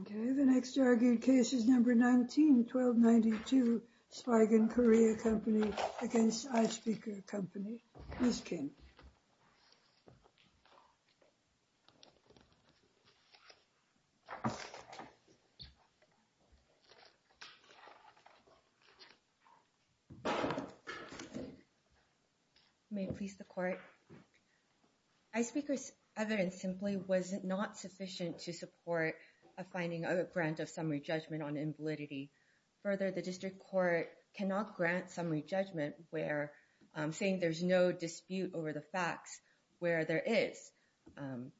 Okay, the next argued case is number 19, 1292 Spigen Korea Co., Ltd. v. iSpeaker Co., Ltd. v. iSpeaker Co., Ltd. May it please the Court? iSpeaker's evidence simply was not sufficient to support a finding of a grant of summary judgment on invalidity. Further, the District Court cannot grant summary judgment where, saying there's no dispute over the facts, where there is.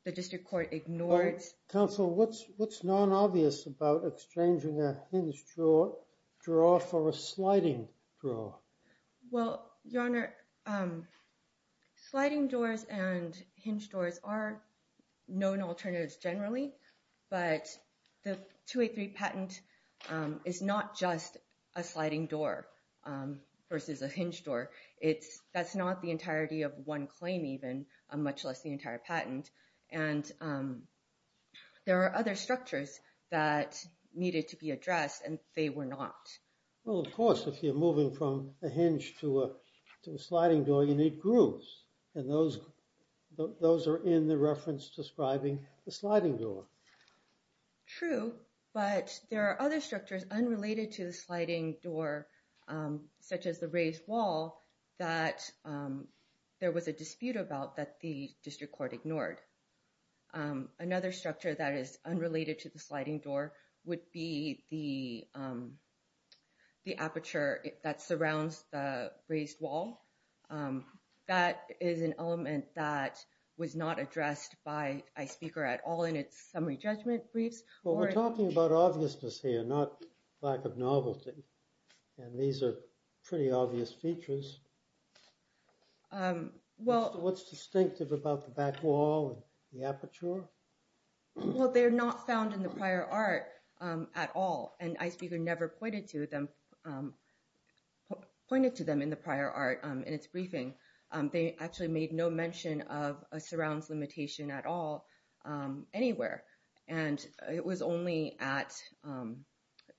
The District Court ignores... Counsel, what's non-obvious about exchanging a hinged drawer for a sliding drawer? Well, Your Honor, sliding doors and hinged doors are known alternatives generally, but the 283 patent is not just a sliding door versus a hinged door. That's not the entirety of one claim even, much less the entire patent, and there are other structures that needed to be addressed and they were not. Well, of course, if you're moving from a hinge to a sliding door, you need grooves, and those are in the reference describing the sliding door. True, but there are other structures unrelated to the sliding door, such as the raised wall, that there was a dispute about that the District Court ignored. Another structure that is unrelated to the sliding door would be the aperture that surrounds the raised wall. That is an element that was not addressed by iSpeaker at all in its summary judgment briefs. Well, we're talking about obviousness here, not lack of novelty, and these are pretty obvious features. What's distinctive about the back wall and the aperture? Well, they're not found in the prior art at all, and iSpeaker never pointed to them in the prior art in its briefing. They actually made no mention of a surrounds limitation at all anywhere, and it was only at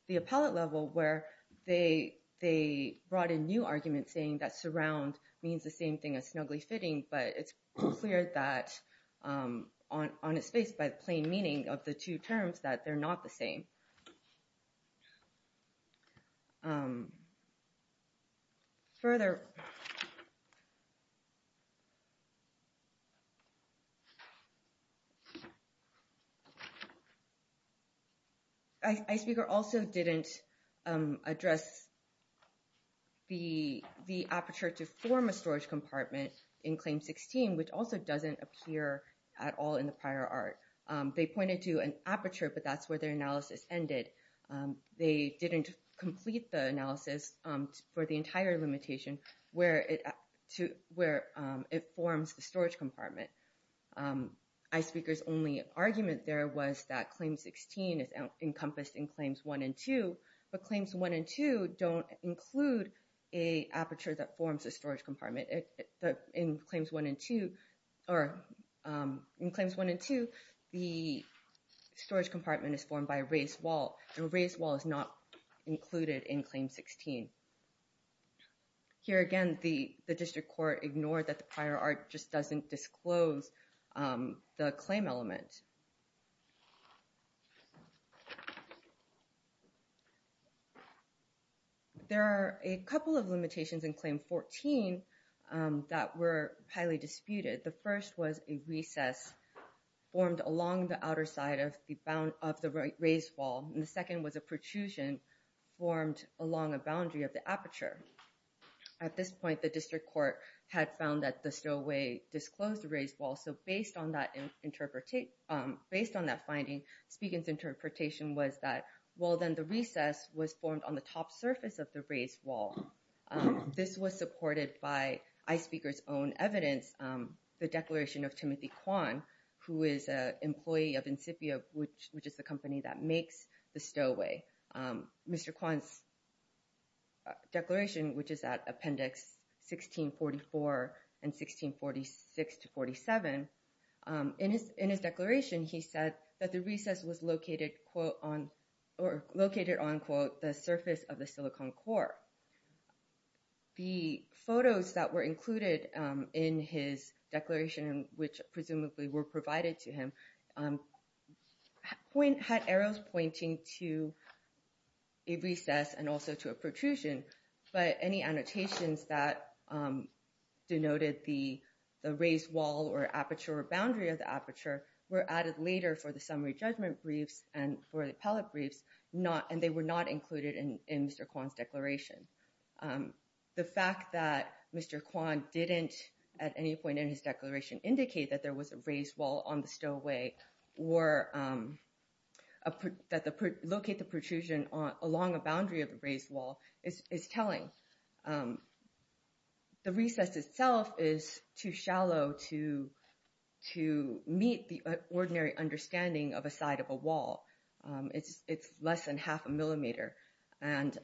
the appellate level where they brought in new arguments saying that surround means the same thing as snugly fitting, but it's clear that on its face by the plain meaning of the two terms that they're not the same. Further, iSpeaker also didn't address the aperture to form a storage compartment in Claim 16, which also doesn't appear at all in the prior art. They pointed to an aperture, but that's where their analysis ended. They didn't complete the analysis for the entire limitation where it forms the storage compartment. iSpeaker's only argument there was that Claim 16 is encompassed in Claims 1 and 2, but Claims 1 and 2 don't include an aperture that forms a storage compartment. In Claims 1 and 2, the storage compartment is formed by a raised wall, and a raised wall is not included in Claim 16. Here again, the district court ignored that the prior art just doesn't disclose the claim element. There are a couple of limitations in Claim 14 that were highly disputed. The first was a recess formed along the outer side of the raised wall, and the second was a protrusion formed along a boundary of the aperture. At this point, the district court had found that the stowaway disclosed the raised wall, so based on that finding, iSpeaker's interpretation was that, well, then the recess was formed on the top surface of the raised wall. This was supported by iSpeaker's own evidence, the declaration of Timothy Kwan, who is an employee of Insipia, which is the company that makes the stowaway. Mr. Kwan's declaration, which is at Appendix 1644 and 1646-47, in his declaration, he said that the recess was located on, quote, the surface of the silicon core. The photos that were included in his declaration, which presumably were provided to him, had arrows pointing to a recess and also to a protrusion, but any annotations that denoted the raised wall or aperture or boundary of the aperture were added later for the summary judgment briefs and for the appellate briefs, and they were not included in Mr. Kwan's declaration. The fact that Mr. Kwan didn't at any point in his declaration indicate that there was a raised wall on the stowaway or that locate the protrusion along a boundary of the raised wall is telling. The recess itself is too shallow to meet the ordinary understanding of a side of a wall. It's less than half a millimeter, and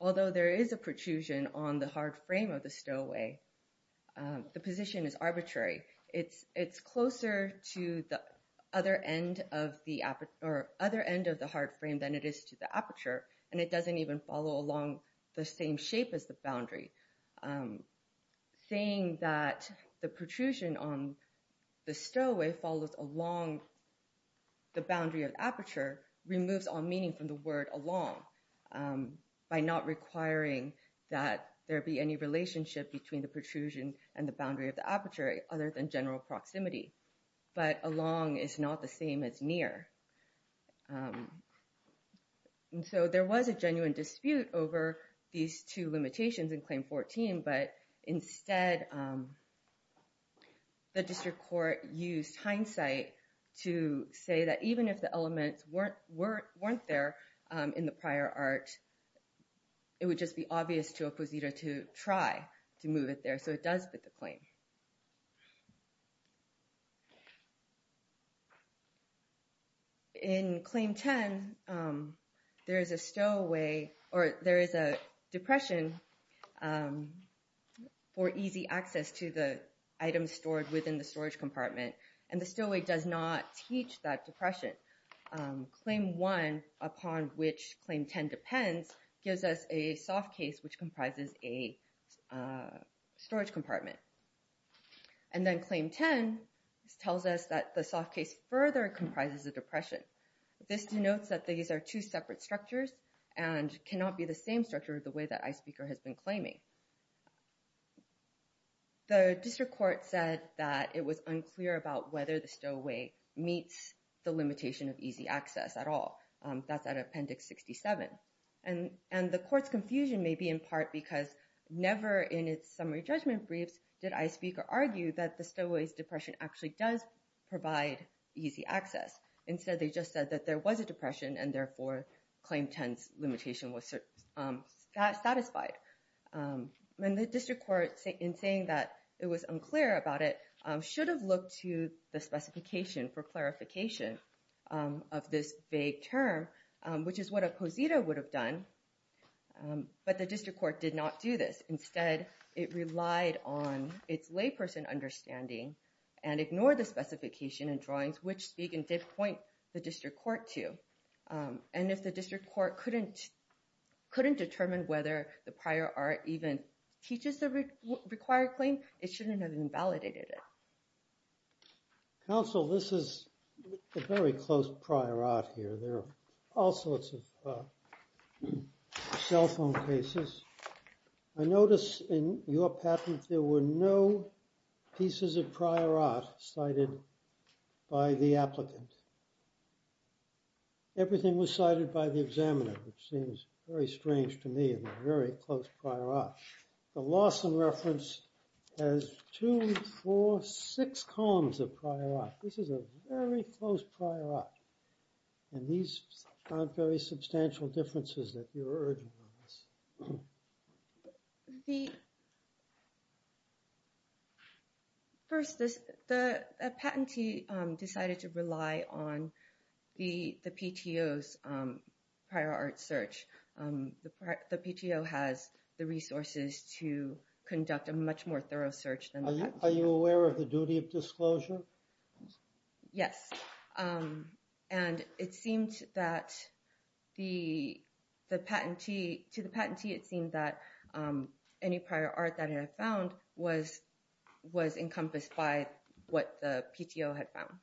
although there is a protrusion on the hard frame of the stowaway, the position is arbitrary. It's closer to the other end of the hard frame than it is to the aperture, and it doesn't even follow along the same shape as the boundary. Saying that the protrusion on the stowaway follows along the boundary of aperture removes all meaning from the word along, by not requiring that there be any relationship between the protrusion and the boundary of the aperture other than general proximity, but along is not the same as near. So there was a genuine dispute over these two limitations in Claim 14, but instead the district court used hindsight to say that even if the elements weren't there in the prior art, it would just be obvious to a posito to try to move it there, so it does fit the claim. In Claim 10, there is a depression for easy access to the items stored within the storage compartment, and the stowaway does not teach that depression. Claim 1, upon which Claim 10 depends, gives us a soft case which comprises a storage compartment. And then Claim 10 tells us that the soft case further comprises a depression. This denotes that these are two separate structures and cannot be the same structure the way that iSPEAKER has been claiming. The district court said that it was unclear about whether the stowaway meets the limitation of easy access at all. That's out of Appendix 67. And the court's confusion may be in part because never in its summary judgment briefs did iSPEAKER argue that the stowaway's depression actually does provide easy access. Instead, they just said that there was a depression, and therefore Claim 10's limitation was satisfied. The district court, in saying that it was unclear about it, should have looked to the specification for clarification of this vague term, which is what a posito would have done, but the district court did not do this. Instead, it relied on its layperson understanding and ignored the specification and drawings, which SPEAKER did point the district court to. And if the district court couldn't determine whether the prior art even teaches the required claim, it shouldn't have invalidated it. Counsel, this is a very close prior art here. There are all sorts of cell phone cases. I notice in your patent there were no pieces of prior art cited by the applicant. Everything was cited by the examiner, which seems very strange to me, and a very close prior art. The Lawson reference has two, four, six columns of prior art. This is a very close prior art. And these aren't very substantial differences that you're urging on us. First, the patentee decided to rely on the PTO's prior art search. The PTO has the resources to conduct a much more thorough search. Are you aware of the duty of disclosure? Yes. And it seemed that to the patentee it seemed that any prior art that it had found was encompassed by what the PTO had found.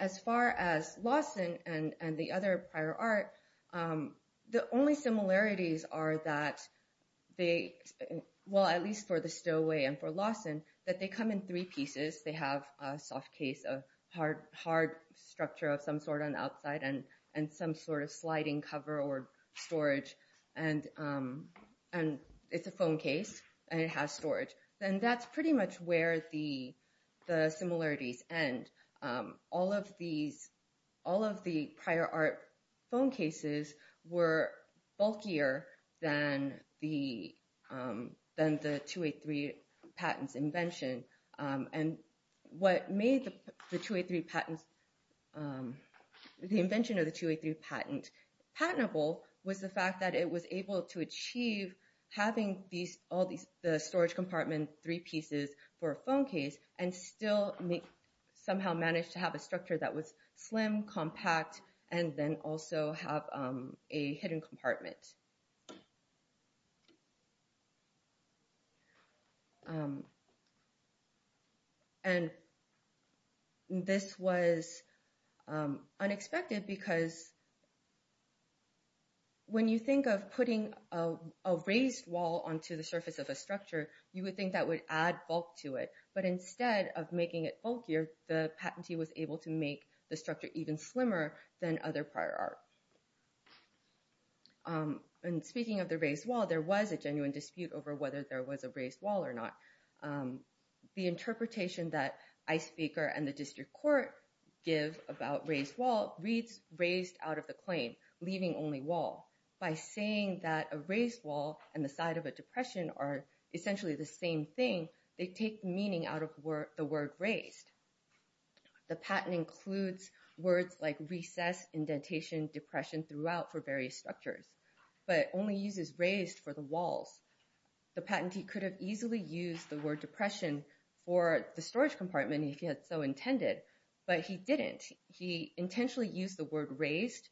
As far as Lawson and the other prior art, the only similarities are that they, well at least for the Stowaway and for Lawson, that they come in three pieces. They have a soft case, a hard structure of some sort on the outside, and some sort of sliding cover or storage. And it's a phone case and it has storage. And that's pretty much where the similarities end. All of the prior art phone cases were bulkier than the 283 patent's invention. And what made the invention of the 283 patent patentable was the fact that it was able to achieve having the storage compartment three pieces for a phone case and still somehow manage to have a structure that was slim, compact, and then also have a hidden compartment. And this was unexpected because when you think of putting a raised wall onto the surface of a structure, you would think that would add bulk to it. But instead of making it bulkier, the patentee was able to make the structure even slimmer than other prior art. And speaking of the raised wall, there was a genuine dispute over whether there was a raised wall or not. The interpretation that ICE speaker and the district court give about raised wall reads raised out of the claim, leaving only wall. By saying that a raised wall and the side of a depression are essentially the same thing, they take meaning out of the word raised. The patent includes words like recess, indentation, depression throughout for various structures, but only uses raised for the walls. The patentee could have easily used the word depression for the storage compartment if he had so intended, but he didn't. He intentionally used the word raised,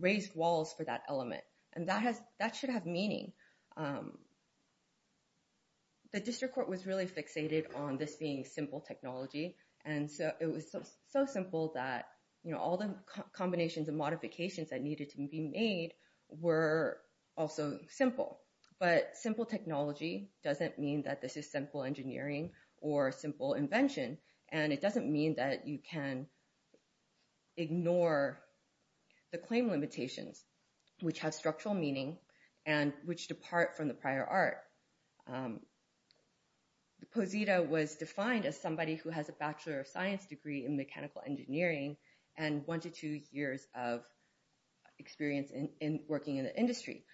raised walls for that element. And that should have meaning. The district court was really fixated on this being simple technology. And so it was so simple that all the combinations and modifications that needed to be made were also simple. But simple technology doesn't mean that this is simple engineering or simple invention. And it doesn't mean that you can ignore the claim limitations, which have structural meaning and which depart from the prior art. Posita was defined as somebody who has a bachelor of science degree in mechanical engineering and one to two years of experience in working in the industry.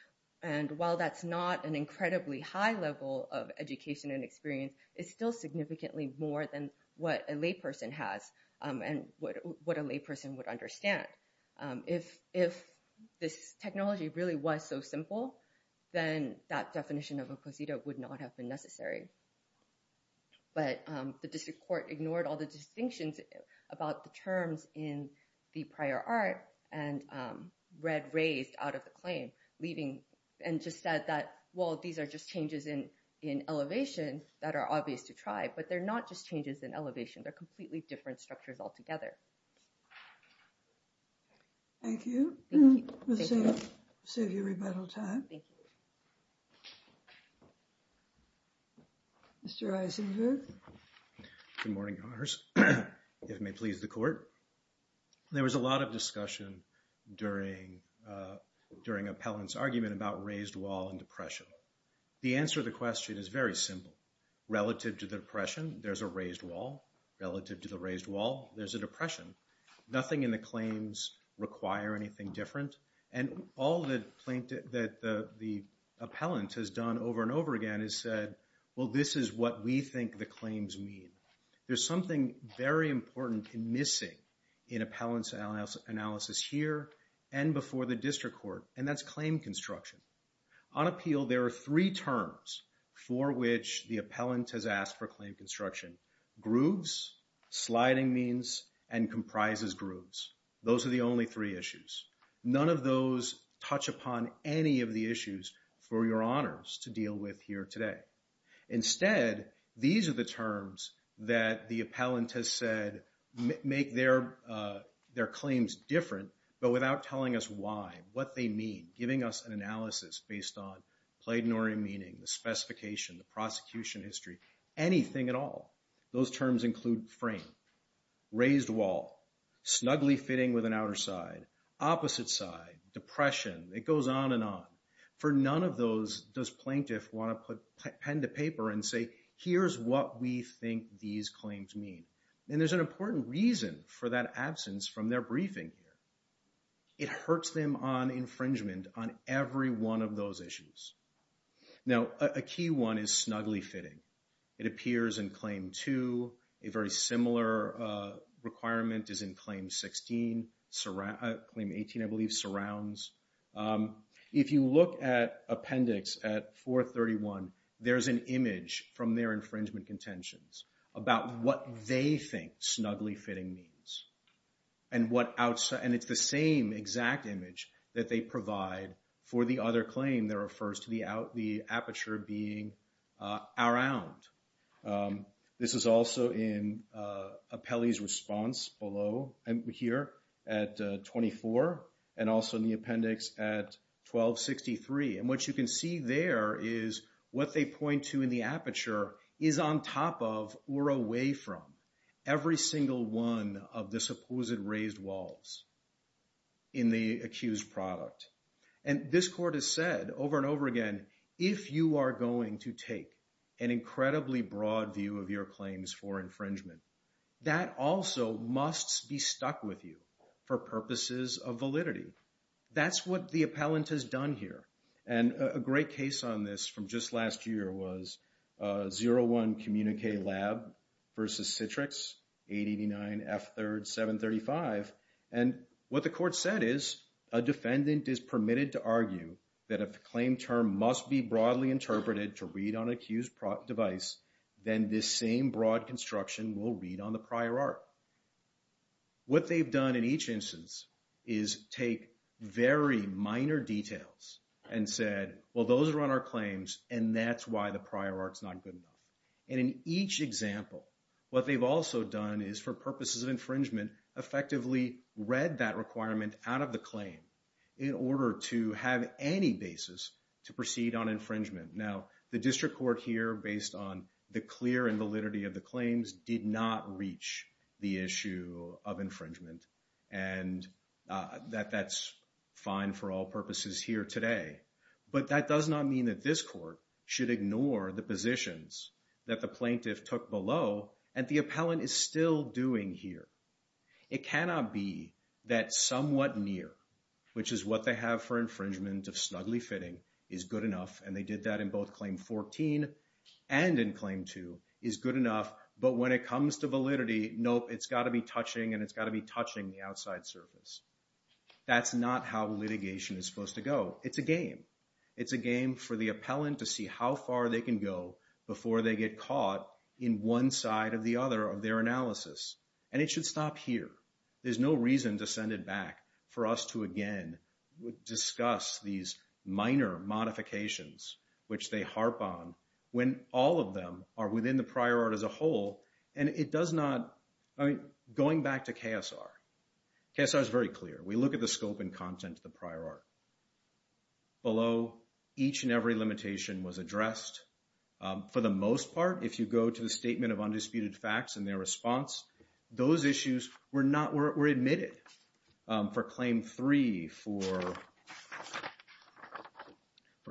And while that's not an incredibly high level of education and experience, it's still significantly more than what a layperson has and what a layperson would understand. If this technology really was so simple, then that definition of a posita would not have been necessary. But the district court ignored all the distinctions about the terms in the prior art and read raised out of the claim. Leaving and just said that, well, these are just changes in in elevation that are obvious to try, but they're not just changes in elevation. They're completely different structures altogether. Thank you. Thank you. Thank you. Thank you. Thank you. Good morning. May please the court. There was a lot of discussion during during appellants argument about raised wall and depression. The answer to the question is very simple. Relative to the depression, there's a raised wall relative to the raised wall. There's a depression. Nothing in the claims require anything different. And all that the appellant has done over and over again is said, well, this is what we think the claims mean. There's something very important missing in appellants analysis here and before the district court. And that's claim construction. On appeal, there are three terms for which the appellant has asked for claim construction. Grooves, sliding means, and comprises grooves. Those are the only three issues. None of those touch upon any of the issues for your honors to deal with here today. Instead, these are the terms that the appellant has said make their their claims different, but without telling us why. What they mean. Giving us an analysis based on platinory meaning, the specification, the prosecution history. Anything at all. Those terms include frame, raised wall, snugly fitting with an outer side, opposite side, depression. It goes on and on. For none of those does plaintiff want to put pen to paper and say, here's what we think these claims mean. And there's an important reason for that absence from their briefing here. It hurts them on infringement on every one of those issues. Now, a key one is snugly fitting. It appears in claim two. A very similar requirement is in claim 16. Claim 18, I believe, surrounds. If you look at appendix at 431, there's an image from their infringement contentions about what they think snugly fitting means. And it's the same exact image that they provide for the other claim that refers to the aperture being around. This is also in Apelli's response below here at 24, and also in the appendix at 1263. And what you can see there is what they point to in the aperture is on top of or away from. Every single one of the supposed raised walls in the accused product. And this court has said over and over again, if you are going to take an incredibly broad view of your claims for infringement, that also must be stuck with you for purposes of validity. That's what the appellant has done here. And a great case on this from just last year was 01 Communique Lab versus Citrix 889 F3rd 735. And what the court said is, a defendant is permitted to argue that if the claim term must be broadly interpreted to read on an accused device, then this same broad construction will read on the prior art. What they've done in each instance is take very minor details and said, well, those are on our claims and that's why the prior art's not good enough. And in each example, what they've also done is for purposes of infringement, effectively read that requirement out of the claim in order to have any basis to proceed on infringement. Now, the district court here, based on the clear and validity of the claims, did not reach the issue of infringement. And that's fine for all purposes here today. But that does not mean that this court should ignore the positions that the plaintiff took below and the appellant is still doing here. It cannot be that somewhat near, which is what they have for infringement of snugly fitting, is good enough. And they did that in both Claim 14 and in Claim 2, is good enough. But when it comes to validity, nope, it's got to be touching and it's got to be touching the outside surface. That's not how litigation is supposed to go. It's a game. It's a game for the appellant to see how far they can go before they get caught in one side or the other of their analysis. And it should stop here. There's no reason to send it back for us to again discuss these minor modifications, which they harp on, when all of them are within the prior art as a whole. And it does not, I mean, going back to KSR, KSR is very clear. We look at the scope and content of the prior art. Below, each and every limitation was addressed. For the most part, if you go to the Statement of Undisputed Facts and their response, those issues were not, were admitted. For Claim 3, for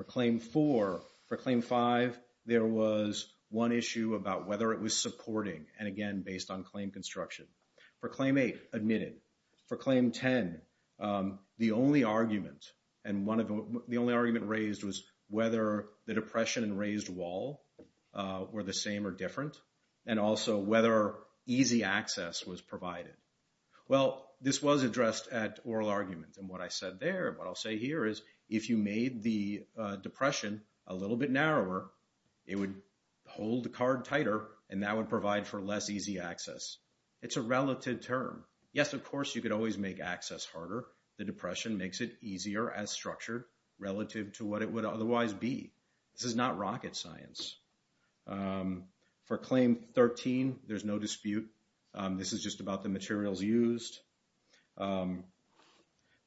Claim 4, for Claim 5, there was one issue about whether it was supporting. And again, based on claim construction. For Claim 8, admitted. For Claim 10, the only argument, and the only argument raised was whether the depression and raised wall were the same or different. And also whether easy access was provided. Well, this was addressed at oral argument. And what I said there, what I'll say here is, if you made the depression a little bit narrower, it would hold the card tighter, and that would provide for less easy access. It's a relative term. Yes, of course, you could always make access harder. The depression makes it easier as structure relative to what it would otherwise be. This is not rocket science. For Claim 13, there's no dispute. This is just about the materials used. For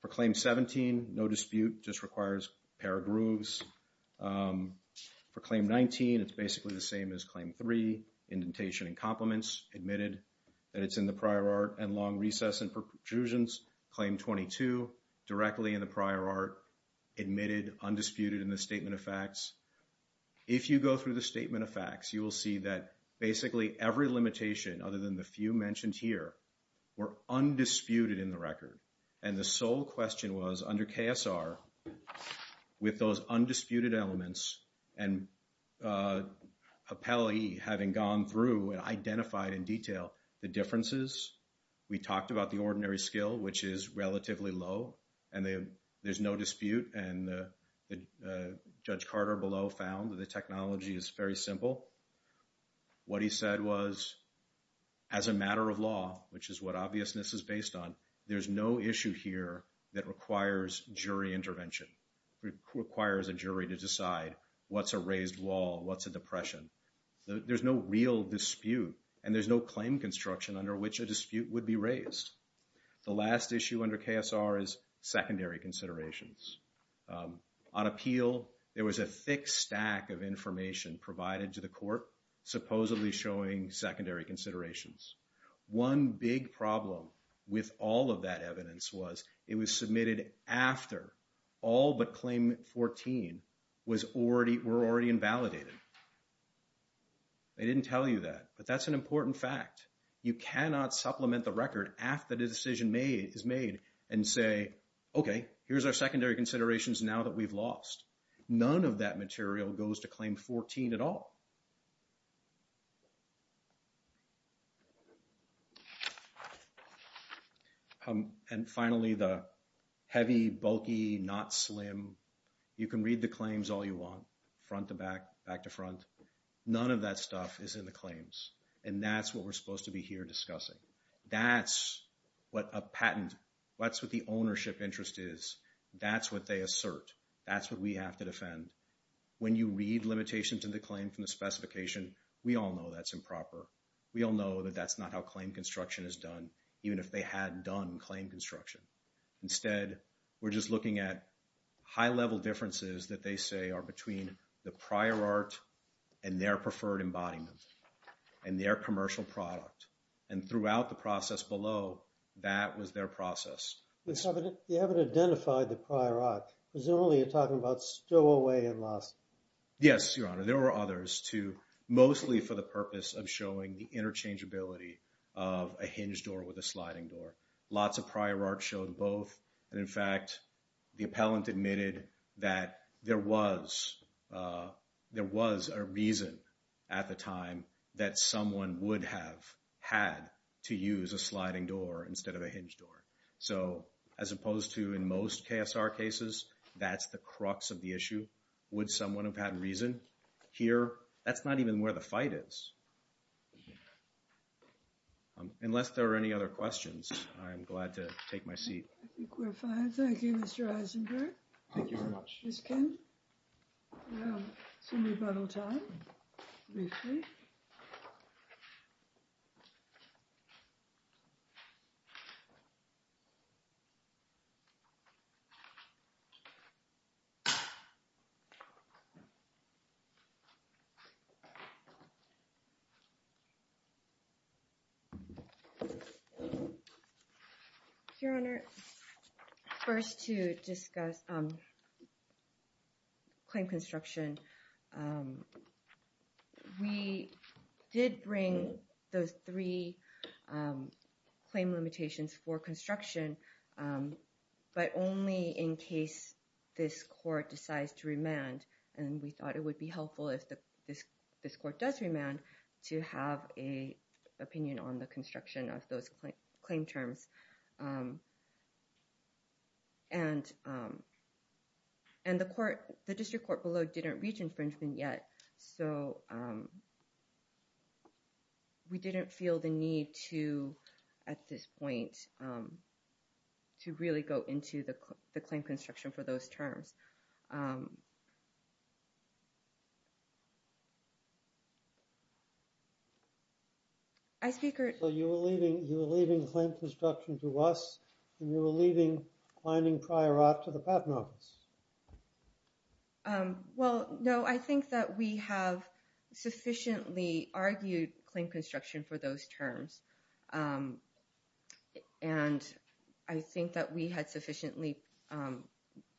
Claim 17, no dispute, just requires a pair of grooves. For Claim 19, it's basically the same as Claim 3. Indentation and compliments, admitted that it's in the prior art, and long recess and protrusions. Claim 22, directly in the prior art, admitted, undisputed in the statement of facts. If you go through the statement of facts, you will see that basically every limitation, other than the few mentioned here, were undisputed in the record. And the sole question was, under KSR, with those undisputed elements, and Appelli having gone through and identified in detail the differences, we talked about the ordinary skill, which is relatively low, and there's no dispute, and Judge Carter below found that the technology is very simple. What he said was, as a matter of law, which is what obviousness is based on, there's no issue here that requires jury intervention, requires a jury to decide what's a raised wall, what's a depression. There's no real dispute, and there's no claim construction under which a dispute would be raised. The last issue under KSR is secondary considerations. On appeal, there was a thick stack of information provided to the court, supposedly showing secondary considerations. One big problem with all of that evidence was it was submitted after all but claim 14 were already invalidated. They didn't tell you that, but that's an important fact. You cannot supplement the record after the decision is made and say, okay, here's our secondary considerations now that we've lost. None of that material goes to claim 14 at all. And finally, the heavy, bulky, not slim, you can read the claims all you want, front to back, back to front. None of that stuff is in the claims, and that's what we're supposed to be here discussing. That's what a patent, that's what the ownership interest is. That's what they assert. That's what we have to defend. When you read limitations in the claim from the specification, we all know that's improper. We all know that that's not how claim construction is done, even if they had done claim construction. Instead, we're just looking at high-level differences that they say are between the prior art and their preferred embodiment and their commercial product. And throughout the process below, that was their process. You haven't identified the prior art. Presumably, you're talking about Stowaway and Loss. Yes, Your Honor. There were others, too, mostly for the purpose of showing the interchangeability of a hinged door with a sliding door. Lots of prior art showed both. And, in fact, the appellant admitted that there was a reason at the time that someone would have had to use a sliding door instead of a hinged door. So, as opposed to in most KSR cases, that's the crux of the issue. Would someone have had reason? Here, that's not even where the fight is. Unless there are any other questions, I'm glad to take my seat. I think we're fine. Thank you, Mr. Eisenberg. Thank you very much. Ms. Kim, we'll have some rebuttal time briefly. Thank you. Your Honor, first to discuss claim construction. We did bring those three claim limitations for construction, but only in case this court decides to remand. And we thought it would be helpful if this court does remand to have an opinion on the construction of those claim terms. And the district court below didn't reach infringement yet, so we didn't feel the need to, at this point, to really go into the claim construction for those terms. So, you were leaving claim construction to us, and you were leaving finding prior art to the Patent Office? Well, no, I think that we have sufficiently argued claim construction for those terms. And I think that we had sufficiently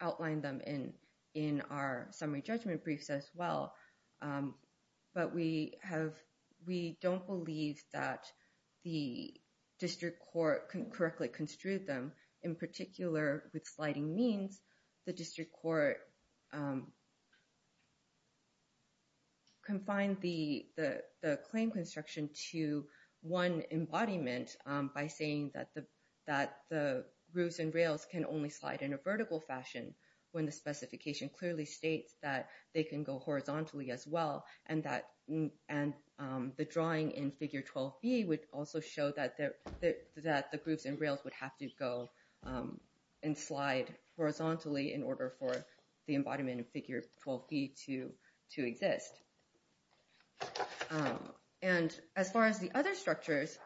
outlined them in our summary judgment briefs as well. But we don't believe that the district court correctly construed them. In particular, with sliding means, the district court confined the claim construction to one embodiment by saying that the roofs and rails can only slide in a vertical fashion, when the specification clearly states that they can go horizontally as well, and the drawing in Figure 12B would also show that the roofs and rails would have to go and slide horizontally in order for the embodiment in Figure 12B to exist. And as far as the other structures,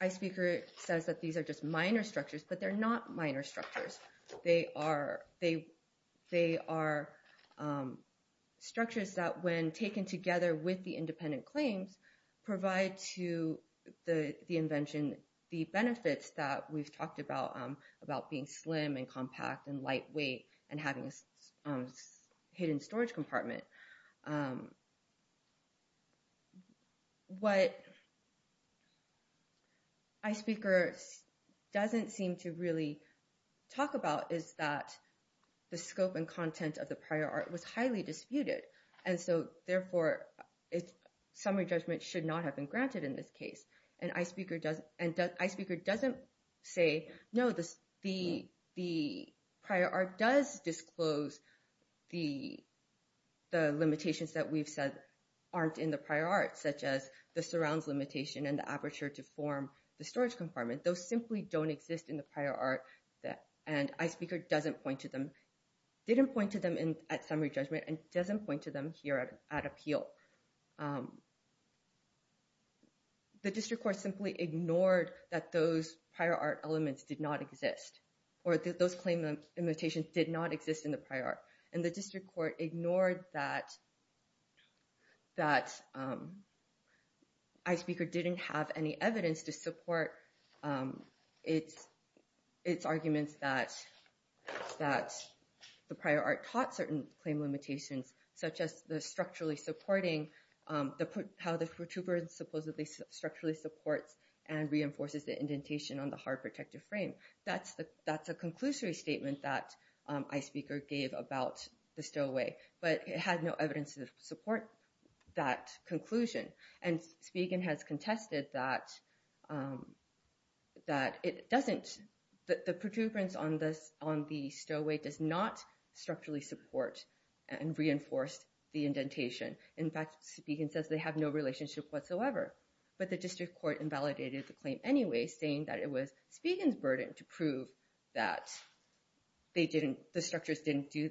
Ice Speaker says that these are just minor structures, but they're not minor structures. They are structures that, when taken together with the independent claims, provide to the invention the benefits that we've talked about, about being slim and compact and lightweight and having a hidden storage compartment. What Ice Speaker doesn't seem to really talk about is that the scope and content of the prior art was highly disputed. And so, therefore, summary judgment should not have been granted in this case. And Ice Speaker doesn't say, no, the prior art does disclose the limitations that we've said aren't in the prior art, such as the surrounds limitation and the aperture to form the storage compartment. Those simply don't exist in the prior art, and Ice Speaker didn't point to them at summary judgment and doesn't point to them here at appeal. The district court simply ignored that those prior art elements did not exist, or those claim limitations did not exist in the prior art. And the district court ignored that Ice Speaker didn't have any evidence to support its arguments that the prior art taught certain claim limitations, such as how the protuberance supposedly structurally supports and reinforces the indentation on the hard protective frame. That's a conclusory statement that Ice Speaker gave about the stowaway, but it had no evidence to support that conclusion. And Spigen has contested that the protuberance on the stowaway does not structurally support and reinforce the indentation. In fact, Spigen says they have no relationship whatsoever. But the district court invalidated the claim anyway, saying that it was Spigen's burden to prove that the structures didn't do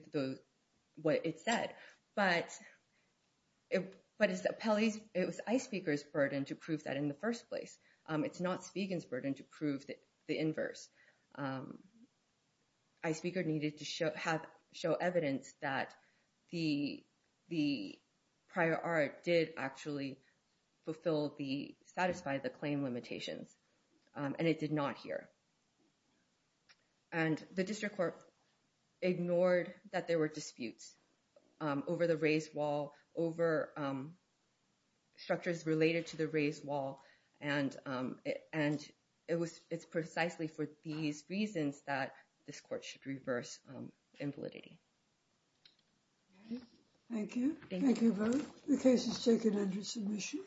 what it said. But it was Ice Speaker's burden to prove that in the first place. It's not Spigen's burden to prove the inverse. Ice Speaker needed to show evidence that the prior art did actually satisfy the claim limitations, and it did not here. And the district court ignored that there were disputes over the raised wall, over structures related to the raised wall. And it's precisely for these reasons that this court should reverse invalidating. Thank you. Thank you both. The case is taken under submission.